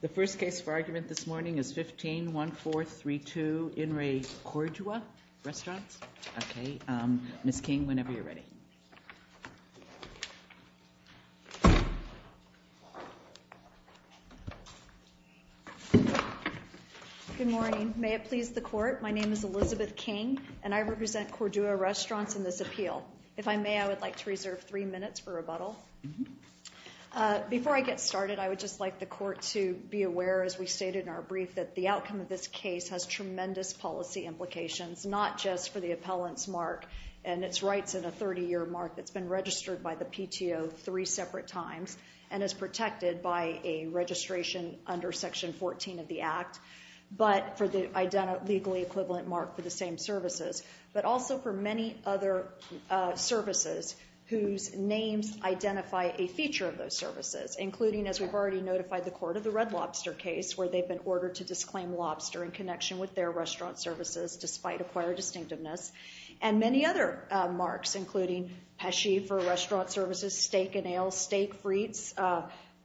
The first case for argument this morning is 15-1432 In Re Cordua Restaurants. Okay, Ms. King, whenever you're ready. Good morning. May it please the court, my name is Elizabeth King and I represent Cordua Restaurants in this appeal. If I may, I would like to reserve three minutes for rebuttal. Before I get started, I would just like the court to be aware, as we stated in our brief, that the outcome of this case has tremendous policy implications, not just for the appellant's mark and its rights in a 30-year mark that's been registered by the PTO three separate times and is protected by a registration under Section 14 of the Act, but for the legally equivalent mark for the same services, but also for many other services whose names identify a feature of those services, including, as we've already notified the court, of the Red Lobster case, where they've been ordered to disclaim lobster in connection with their restaurant services, despite acquired distinctiveness, and many other marks, including pesci for restaurant services, steak and ales, steak frites,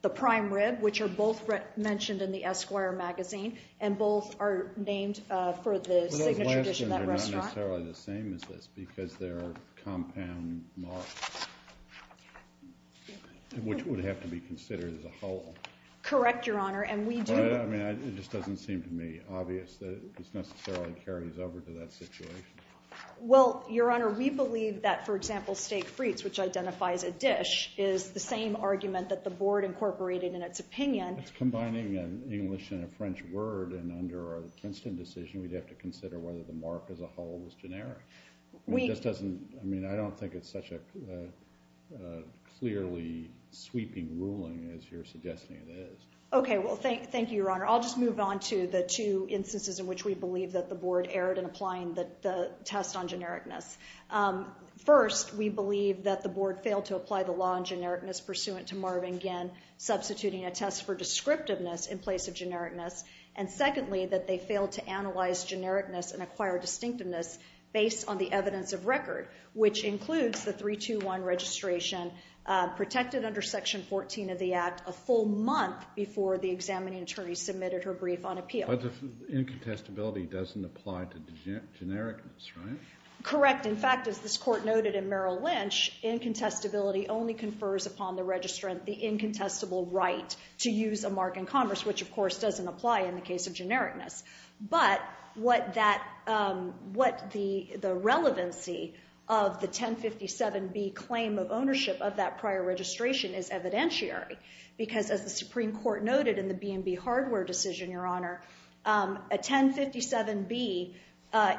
the prime rib, which are both mentioned in the Esquire magazine and both are named for the signature dish of that restaurant. But those last two are not necessarily the same as this because they're compound marks, which would have to be considered as a whole. Correct, Your Honor, and we do. But, I mean, it just doesn't seem to me obvious that this necessarily carries over to that situation. Well, Your Honor, we believe that, for example, steak frites, which identifies a dish, is the same argument that the Board incorporated in its opinion. It's combining an English and a French word, and under a Princeton decision, we'd have to consider whether the mark as a whole was generic. It just doesn't, I mean, I don't think it's such a clearly sweeping ruling as you're suggesting it is. Okay, well, thank you, Your Honor. I'll just move on to the two instances in which we believe that the Board erred in applying the test on genericness. First, we believe that the Board failed to apply the law on genericness pursuant to Marvin Ginn, substituting a test for descriptiveness in place of genericness, and secondly, that they failed to analyze genericness and acquire distinctiveness based on the evidence of record, which includes the 321 registration protected under Section 14 of the Act a full month before the examining attorney submitted her brief on appeal. But the incontestability doesn't apply to genericness, right? Correct. In fact, as this Court noted in Merrill Lynch, incontestability only confers upon the registrant the incontestable right to use a mark in commerce, which, of course, doesn't apply in the case of genericness. But what the relevancy of the 1057B claim of ownership of that prior registration is evidentiary, because as the Supreme Court noted in the B&B hardware decision, Your Honor, a 1057B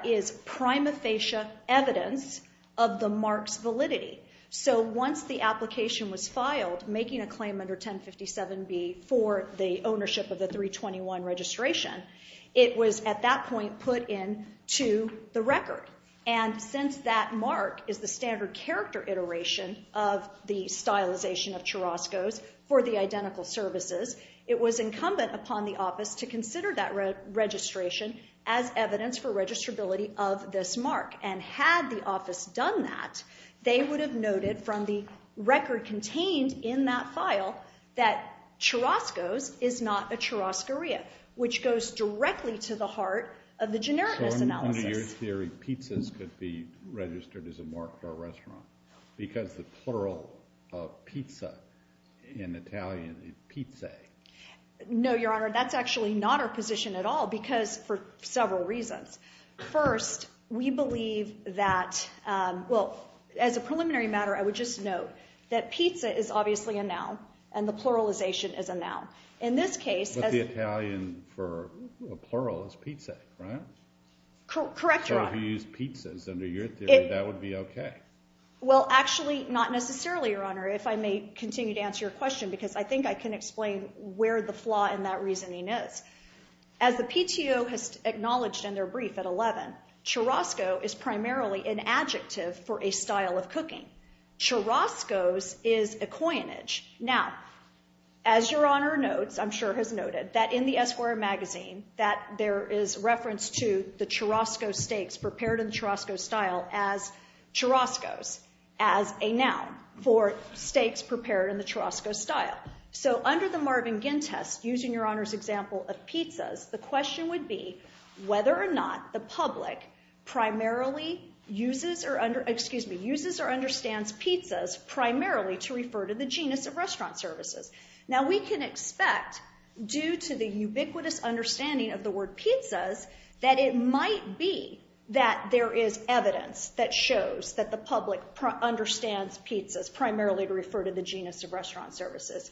is prima facie evidence of the mark's validity. So once the application was filed making a claim under 1057B for the ownership of the 321 registration, it was at that point put into the record. And since that mark is the standard character iteration of the stylization of churascos for the identical services, it was incumbent upon the office to consider that registration as evidence for registrability of this mark. And had the office done that, they would have noted from the record contained in that file that churascos is not a churascaria, which goes directly to the heart of the genericness analysis. So in your theory, pizzas could be registered as a mark for a restaurant because the plural of pizza in Italian is pizze. No, Your Honor. That's actually not our position at all because for several reasons. First, we believe that – well, as a preliminary matter, I would just note that pizza is obviously a noun, and the pluralization is a noun. In this case – But the Italian for plural is pizza, right? Correct, Your Honor. So if you use pizzas under your theory, that would be okay. Well, actually, not necessarily, Your Honor, if I may continue to answer your question, because I think I can explain where the flaw in that reasoning is. As the PTO has acknowledged in their brief at 11, churasco is primarily an adjective for a style of cooking. Churascos is a coinage. Now, as Your Honor notes, I'm sure has noted, that in the Esquire magazine, that there is reference to the churasco steaks prepared in the churasco style as churascos, as a noun for steaks prepared in the churasco style. So under the Marvin Ginn test, using Your Honor's example of pizzas, the question would be whether or not the public primarily uses or understands pizzas primarily to refer to the genus of restaurant services. Now, we can expect, due to the ubiquitous understanding of the word pizzas, that it might be that there is evidence that shows that the public understands pizzas primarily to refer to the genus of restaurant services.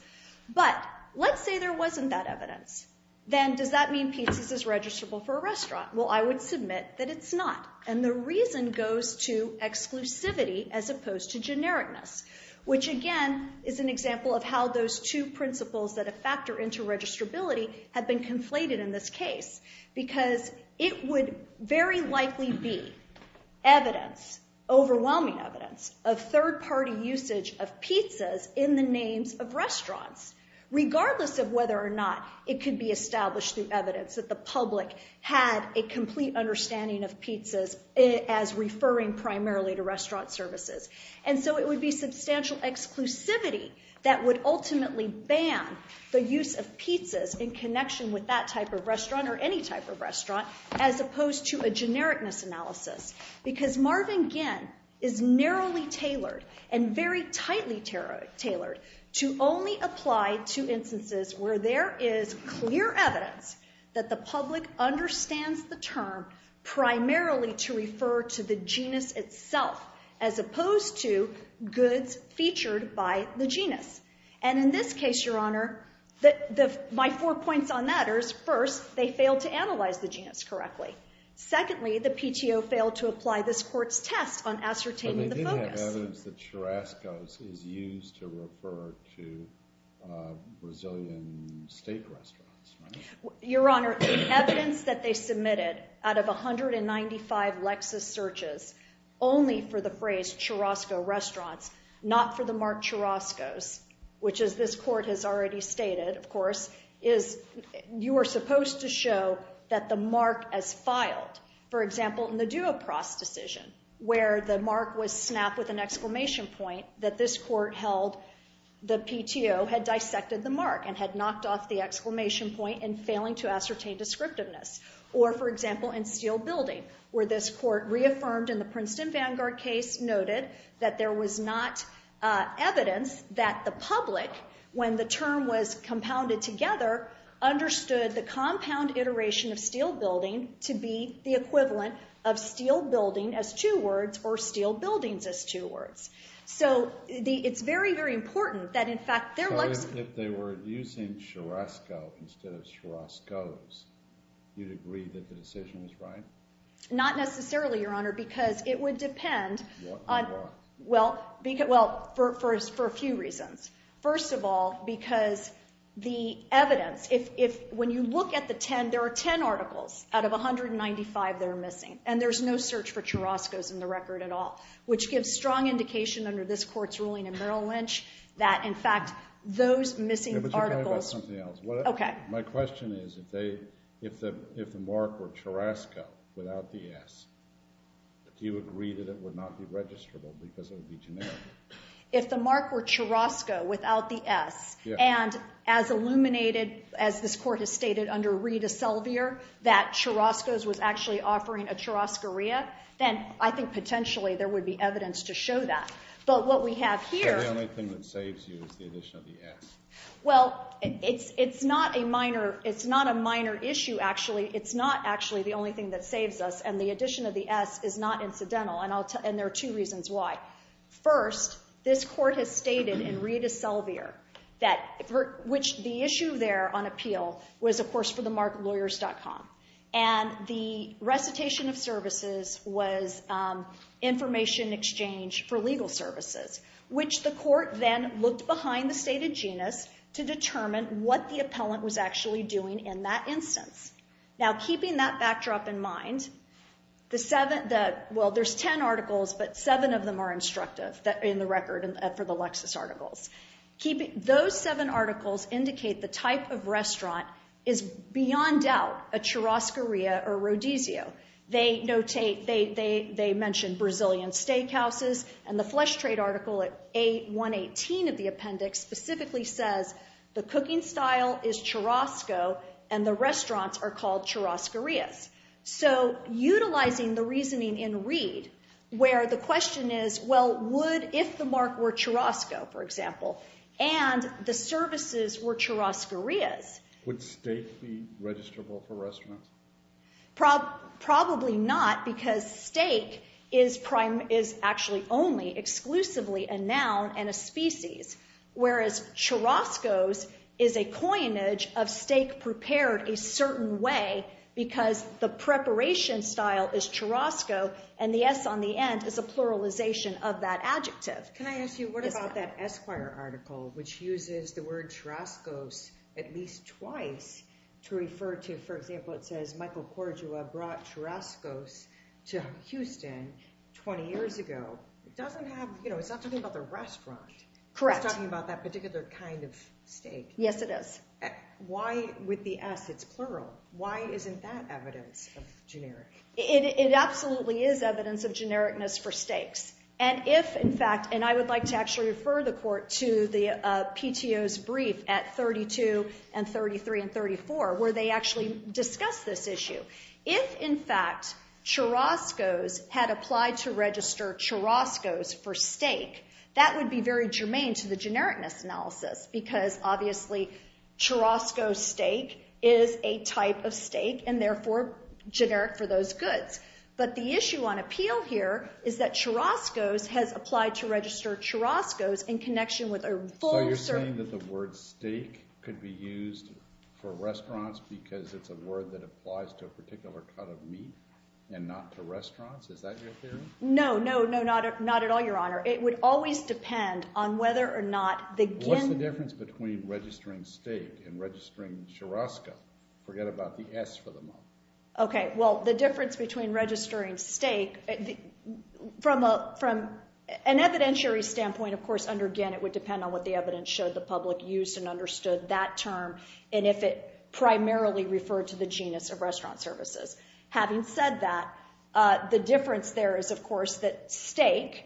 But let's say there wasn't that evidence. Then does that mean pizzas is registrable for a restaurant? Well, I would submit that it's not. And the reason goes to exclusivity as opposed to genericness, which again is an example of how those two principles that have factored into registrability have been conflated in this case, because it would very likely be evidence, overwhelming evidence, of third-party usage of pizzas in the names of restaurants, regardless of whether or not it could be established through evidence that the public had a complete understanding of pizzas as referring primarily to restaurant services. And so it would be substantial exclusivity that would ultimately ban the use of pizzas in connection with that type of restaurant or any type of restaurant, as opposed to a genericness analysis. Because Marvin Ginn is narrowly tailored and very tightly tailored to only apply to instances where there is clear evidence that the public understands the term primarily to refer to the genus itself, as opposed to goods featured by the genus. And in this case, Your Honor, my four points on that are, first, they failed to analyze the genus correctly. Secondly, the PTO failed to apply this court's test on ascertaining the focus. But they did have evidence that churrascos is used to refer to Brazilian steak restaurants, right? Your Honor, the evidence that they submitted out of 195 Lexus searches only for the phrase churrasco restaurants, not for the mark churrascos, you are supposed to show that the mark as filed. For example, in the Duopros decision, where the mark was snapped with an exclamation point, that this court held the PTO had dissected the mark and had knocked off the exclamation point in failing to ascertain descriptiveness. Or, for example, in Steel Building, where this court reaffirmed in the Princeton Vanguard case noted that there was not evidence that the public, when the term was compounded together, understood the compound iteration of steel building to be the equivalent of steel building as two words or steel buildings as two words. So it's very, very important that, in fact, their Lexus... So if they were using churrasco instead of churrascos, you'd agree that the decision was right? Not necessarily, Your Honor, because it would depend on... On what? Well, for a few reasons. First of all, because the evidence, if when you look at the ten, there are ten articles out of 195 that are missing, and there's no search for churrascos in the record at all, which gives strong indication under this court's ruling in Merrill Lynch that, in fact, those missing articles... Yeah, but you're talking about something else. Okay. My question is, if the mark were churrasco without the S, do you agree that it would not be registrable because it would be generic? If the mark were churrasco without the S, and as illuminated as this court has stated under Rita Selvier that churrascos was actually offering a churrascaria, then I think potentially there would be evidence to show that. But what we have here... So the only thing that saves you is the addition of the S. Well, it's not a minor issue, actually. It's not actually the only thing that saves us, and the addition of the S is not incidental, and there are two reasons why. First, this court has stated in Rita Selvier that the issue there on appeal was, of course, for the marklawyers.com, and the recitation of services was information exchange for legal services, which the court then looked behind the stated genus to determine what the appellant was actually doing in that instance. Now, keeping that backdrop in mind, well, there's ten articles, but seven of them are instructive in the record for the Lexis articles. Those seven articles indicate the type of restaurant is beyond doubt a churrascaria or rodizio. They mention Brazilian steakhouses, and the Flesh Trade Article A.118 of the appendix specifically says the cooking style is churrasco and the restaurants are called churrascarias. So utilizing the reasoning in Reed where the question is, well, would if the mark were churrasco, for example, and the services were churrascarias... Would steak be registrable for restaurants? Probably not, because steak is actually only exclusively a noun and a species, whereas churrascos is a coinage of steak prepared a certain way because the preparation style is churrasco, and the S on the end is a pluralization of that adjective. Can I ask you, what about that Esquire article, which uses the word churrascos at least twice to refer to, for example, it says Michael Cordua brought churrascos to Houston 20 years ago. It's not talking about the restaurant. Correct. It's talking about that particular kind of steak. Yes, it is. Why with the S, it's plural. Why isn't that evidence of generic? It absolutely is evidence of genericness for steaks. And if, in fact, and I would like to actually refer the court to the PTO's brief at 32 and 33 and 34 where they actually discuss this issue, if, in fact, churrascos had applied to register churrascos for steak, that would be very germane to the genericness analysis because, obviously, churrasco steak is a type of steak, and therefore generic for those goods. But the issue on appeal here is that churrascos has applied to register churrascos in connection with a full- Are you saying that the word steak could be used for restaurants because it's a word that applies to a particular cut of meat and not to restaurants? Is that your theory? No, no, no, not at all, Your Honor. It would always depend on whether or not the GIN What's the difference between registering steak and registering churrasco? Forget about the S for the moment. Okay. Well, the difference between registering steak from an evidentiary standpoint, of course, under GIN, it would depend on what the evidence showed the public used and understood that term and if it primarily referred to the genus of restaurant services. Having said that, the difference there is, of course, that steak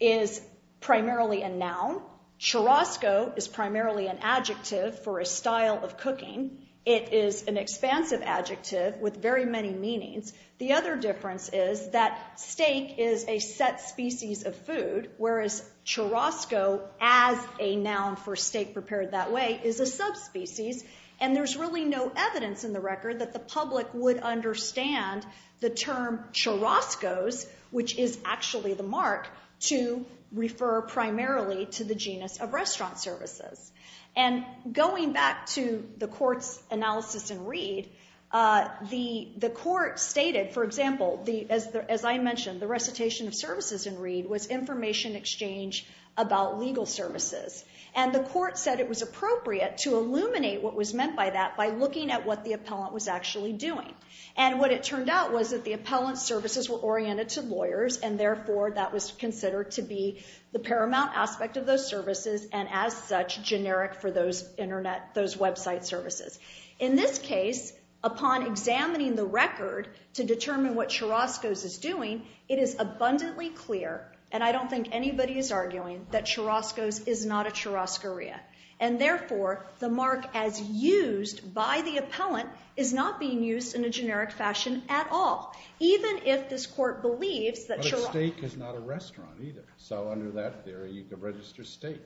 is primarily a noun. Churrasco is primarily an adjective for a style of cooking. It is an expansive adjective with very many meanings. The other difference is that steak is a set species of food, whereas churrasco, as a noun for steak prepared that way, is a subspecies, and there's really no evidence in the record that the public would understand the term churrascos, which is actually the mark, to refer primarily to the genus of restaurant services. And going back to the Court's analysis in Reed, the Court stated, for example, as I mentioned, the recitation of services in Reed was information exchange about legal services, and the Court said it was appropriate to illuminate what was meant by that by looking at what the appellant was actually doing. And what it turned out was that the appellant's services were oriented to lawyers, and therefore that was considered to be the paramount aspect of those services and as such generic for those website services. In this case, upon examining the record to determine what churrascos is doing, it is abundantly clear, and I don't think anybody is arguing, that churrascos is not a churrascaria, and therefore the mark as used by the appellant is not being used in a generic fashion at all, even if this Court believes that churrasco... But steak is not a restaurant either, so under that theory you could register steak.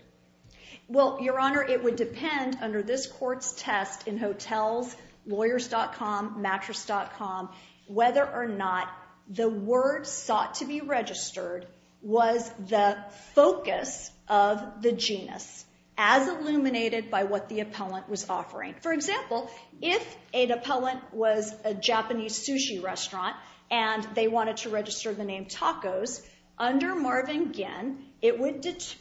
Well, Your Honor, it would depend under this Court's test in Hotels, Lawyers.com, Mattress.com, whether or not the word sought to be registered was the focus of the genus as illuminated by what the appellant was offering. For example, if an appellant was a Japanese sushi restaurant and they wanted to register the name tacos, under Marvin Ginn, it would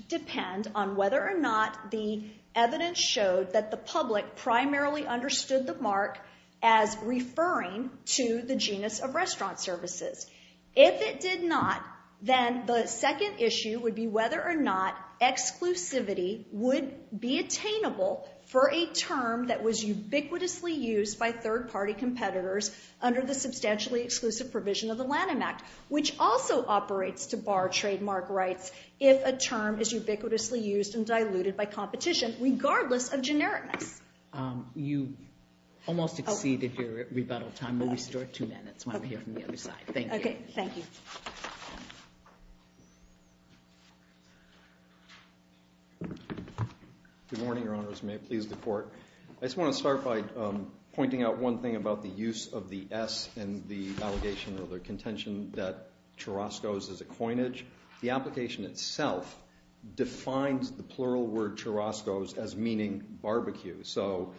depend on whether or not the evidence showed that the public primarily understood the mark as referring to the genus of restaurant services. If it did not, then the second issue would be whether or not exclusivity would be attainable for a term that was ubiquitously used by third-party competitors under the substantially exclusive provision of the Lanham Act, which also operates to bar trademark rights if a term is ubiquitously used and diluted by competition, regardless of genericness. You almost exceeded your rebuttal time. We'll restore two minutes when we hear from the other side. Thank you. Okay, thank you. Good morning, Your Honors. May it please the Court. I just want to start by pointing out one thing about the use of the S and the allegation or the contention that churascos is a coinage. The application itself defines the plural word churascos as meaning barbecue, so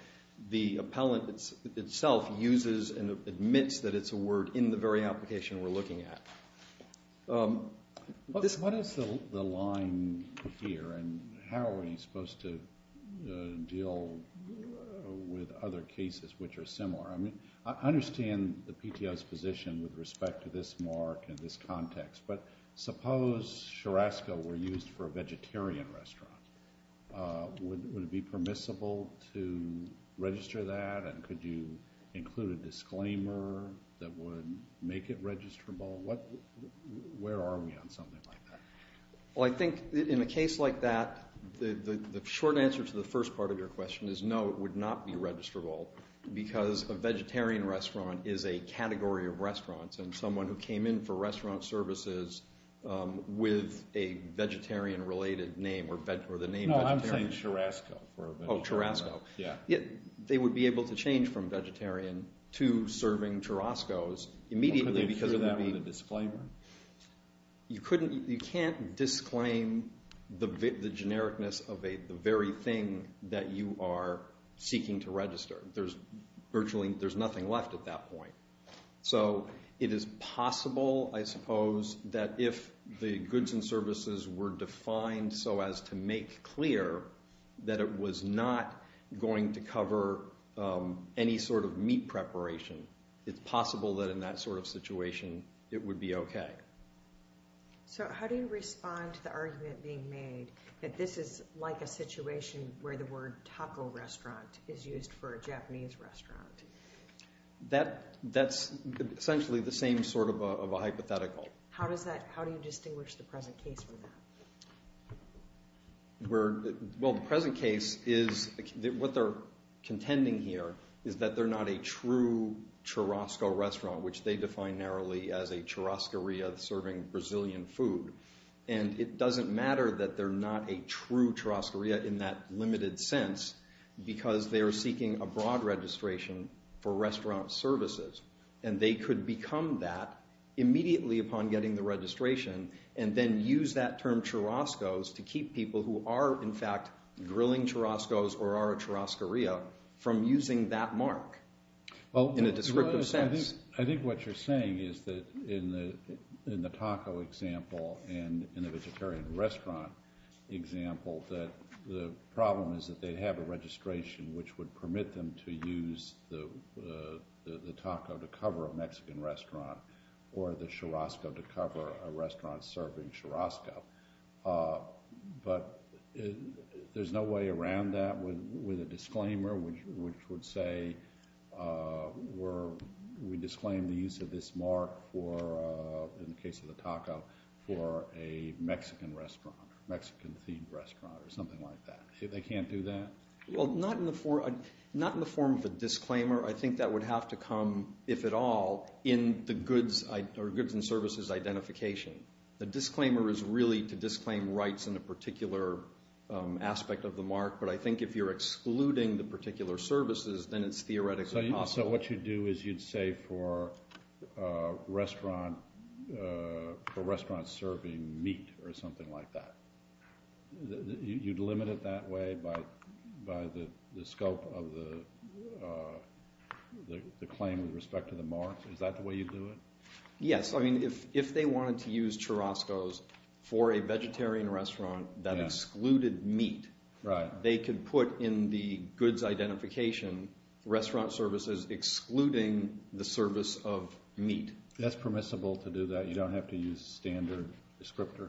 the appellant itself uses and admits that it's a word in the very application we're looking at. What is the line here, and how are we supposed to deal with other cases which are similar? I mean, I understand the PTO's position with respect to this mark and this context, but suppose churascos were used for a vegetarian restaurant. Would it be permissible to register that, and could you include a disclaimer that would make it registrable? Where are we on something like that? Well, I think in a case like that, the short answer to the first part of your question is no, it would not be registrable because a vegetarian restaurant is a category of restaurants, and someone who came in for restaurant services with a vegetarian-related name or the name vegetarian. No, I'm saying churasco for a vegetarian. Oh, churasco. Yeah. They would be able to change from vegetarian to serving churascos immediately because it would be— Could they include that with a disclaimer? You can't disclaim the genericness of the very thing that you are seeking to register. There's nothing left at that point. So it is possible, I suppose, that if the goods and services were defined so as to make clear that it was not going to cover any sort of meat preparation, it's possible that in that sort of situation it would be okay. So how do you respond to the argument being made that this is like a situation where the word taco restaurant is used for a Japanese restaurant? That's essentially the same sort of a hypothetical. How do you distinguish the present case from that? Well, the present case is what they're contending here is that they're not a true churasco restaurant, which they define narrowly as a churascaria serving Brazilian food. And it doesn't matter that they're not a true churascaria in that limited sense because they are seeking a broad registration for restaurant services, and they could become that immediately upon getting the registration and then use that term churascos to keep people who are, in fact, grilling churascos or are a churascaria from using that mark in a descriptive sense. I think what you're saying is that in the taco example and in the vegetarian restaurant example that the problem is that they have a registration which would permit them to use the taco to cover a Mexican restaurant or the churasco to cover a restaurant serving churasco. But there's no way around that with a disclaimer which would say we disclaim the use of this mark for, in the case of the taco, for a Mexican restaurant or Mexican-themed restaurant or something like that. They can't do that? Well, not in the form of a disclaimer. I think that would have to come, if at all, in the goods and services identification. The disclaimer is really to disclaim rights in a particular aspect of the mark, but I think if you're excluding the particular services, then it's theoretically possible. So what you'd do is you'd say for restaurant serving meat or something like that. You'd limit it that way by the scope of the claim with respect to the mark? Is that the way you'd do it? Yes. If they wanted to use churascos for a vegetarian restaurant that excluded meat, they could put in the goods identification restaurant services excluding the service of meat. That's permissible to do that? You don't have to use standard descriptor?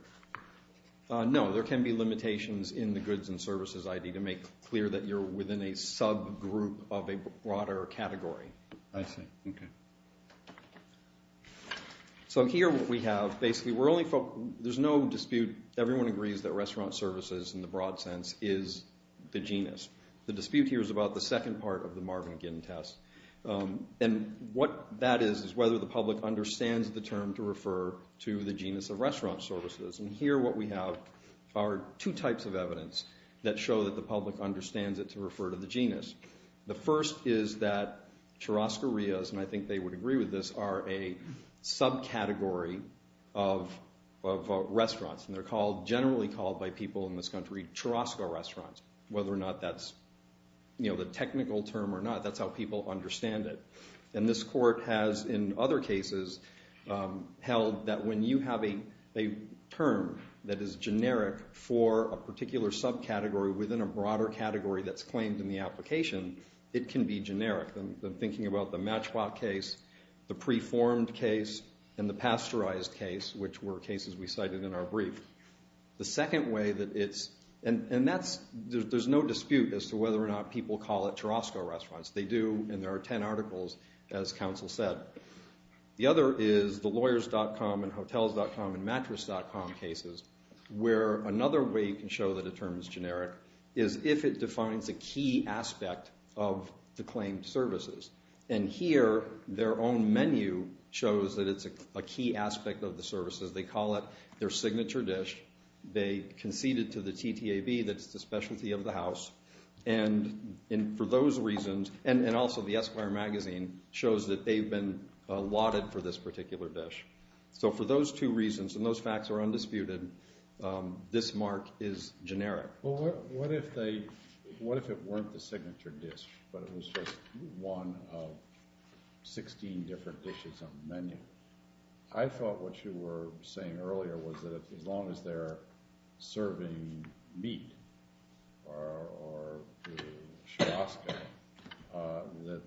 No, there can be limitations in the goods and services ID to make clear that you're within a subgroup of a broader category. I see. Okay. So here what we have, basically, there's no dispute. Everyone agrees that restaurant services, in the broad sense, is the genus. The dispute here is about the second part of the Marvin Ginn test, and what that is is whether the public understands the term to refer to the genus of restaurant services. And here what we have are two types of evidence that show that the public understands it to refer to the genus. The first is that churascarias, and I think they would agree with this, are a subcategory of restaurants, and they're generally called by people in this country churasco restaurants. Whether or not that's the technical term or not, that's how people understand it. And this court has, in other cases, held that when you have a term that is generic for a particular subcategory within a broader category that's claimed in the application, it can be generic. I'm thinking about the matchbox case, the preformed case, and the pasteurized case, which were cases we cited in our brief. The second way that it's, and that's, there's no dispute as to whether or not people call it churasco restaurants. They do, and there are 10 articles, as counsel said. The other is the lawyers.com and hotels.com and mattress.com cases, where another way you can show that a term is generic is if it defines a key aspect of the claimed services. And here their own menu shows that it's a key aspect of the services. They call it their signature dish. They concede it to the TTAB, that's the specialty of the house. And for those reasons, and also the Esquire magazine shows that they've been allotted for this particular dish. So for those two reasons, and those facts are undisputed, this mark is generic. Well, what if they, what if it weren't the signature dish, but it was just one of 16 different dishes on the menu? I thought what you were saying earlier was that as long as they're serving meat or churasco, that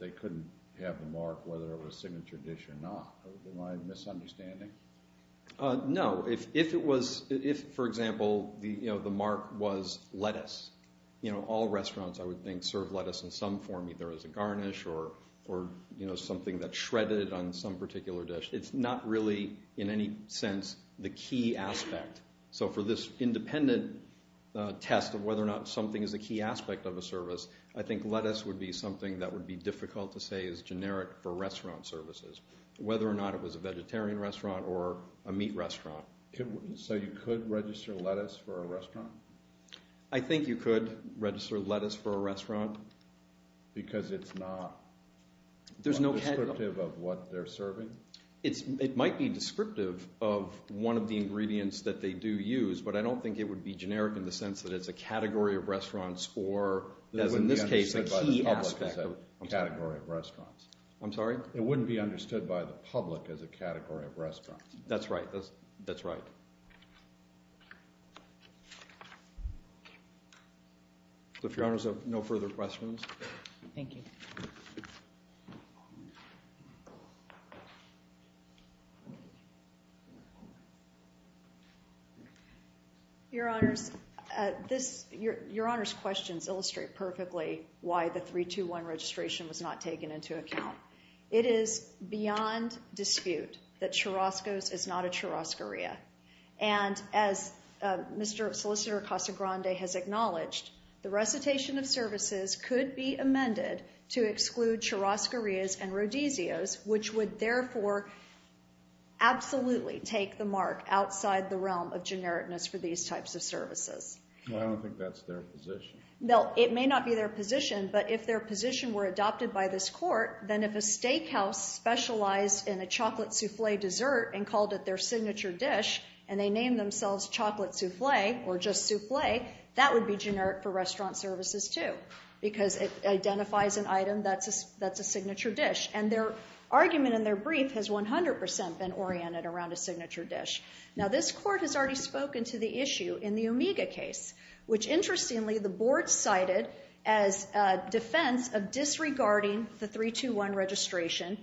they couldn't have the mark whether it was a signature dish or not. Am I misunderstanding? No. If it was, if, for example, the mark was lettuce, all restaurants I would think serve lettuce in some form, either as a garnish or something that's shredded on some particular dish. It's not really in any sense the key aspect. So for this independent test of whether or not something is a key aspect of a service, I think lettuce would be something that would be difficult to say is generic for restaurant services, whether or not it was a vegetarian restaurant or a meat restaurant. So you could register lettuce for a restaurant? I think you could register lettuce for a restaurant. Because it's not descriptive of what they're serving? It might be descriptive of one of the ingredients that they do use, but I don't think it would be generic in the sense that it's a category of restaurants or, as in this case, a key aspect of a category of restaurants. I'm sorry? It wouldn't be understood by the public as a category of restaurants. That's right. If Your Honors have no further questions. Thank you. Your Honors, Your Honors' questions illustrate perfectly why the 321 registration was not taken into account. It is beyond dispute that churrasco is not a churrascaria. And as Mr. Solicitor Casagrande has acknowledged, the recitation of services could be amended to exclude churrascarias and rodizios, which would therefore absolutely take the mark outside the realm of genericness for these types of services. I don't think that's their position. No, it may not be their position, but if their position were adopted by this Court, then if a steakhouse specialized in a chocolate souffle dessert and called it their signature dish and they named themselves chocolate souffle or just souffle, that would be generic for restaurant services, too, because it identifies an item that's a signature dish. And their argument in their brief has 100% been oriented around a signature dish. Now, this Court has already spoken to the issue in the Omega case, which, interestingly, the Board cited as a defense of disregarding the 321 registration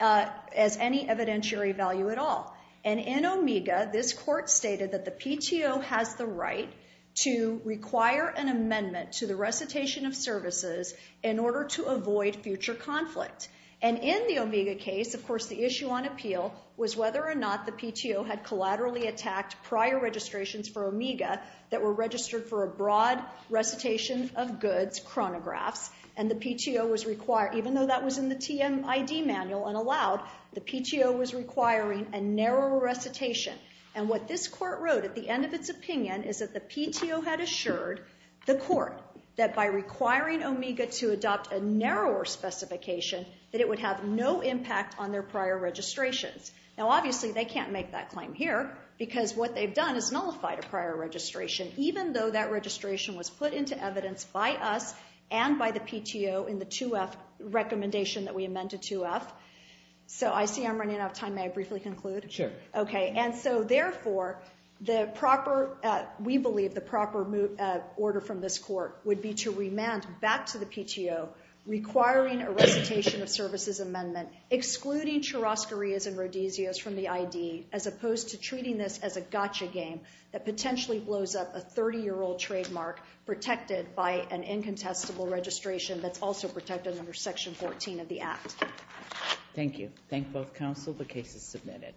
as any evidentiary value at all. And in Omega, this Court stated that the PTO has the right to require an amendment to the recitation of services in order to avoid future conflict. And in the Omega case, of course, the issue on appeal was whether or not the PTO had registered for a broad recitation of goods, chronographs, and the PTO was required, even though that was in the TMID manual and allowed, the PTO was requiring a narrower recitation. And what this Court wrote at the end of its opinion is that the PTO had assured the Court that by requiring Omega to adopt a narrower specification, that it would have no impact on their prior registrations. Now, obviously, they can't make that claim here because what they've done is nullified a prior registration, even though that registration was put into evidence by us and by the PTO in the 2F recommendation that we amended 2F. So I see I'm running out of time. May I briefly conclude? Sure. Okay. And so, therefore, we believe the proper order from this Court would be to remand back to the PTO requiring a recitation of services amendment, excluding churrasquerias and rodizios from the ID, as opposed to treating this as a gotcha game that potentially blows up a 30-year-old trademark protected by an incontestable registration that's also protected under Section 14 of the Act. Thank you. Thank both counsel. The case is submitted.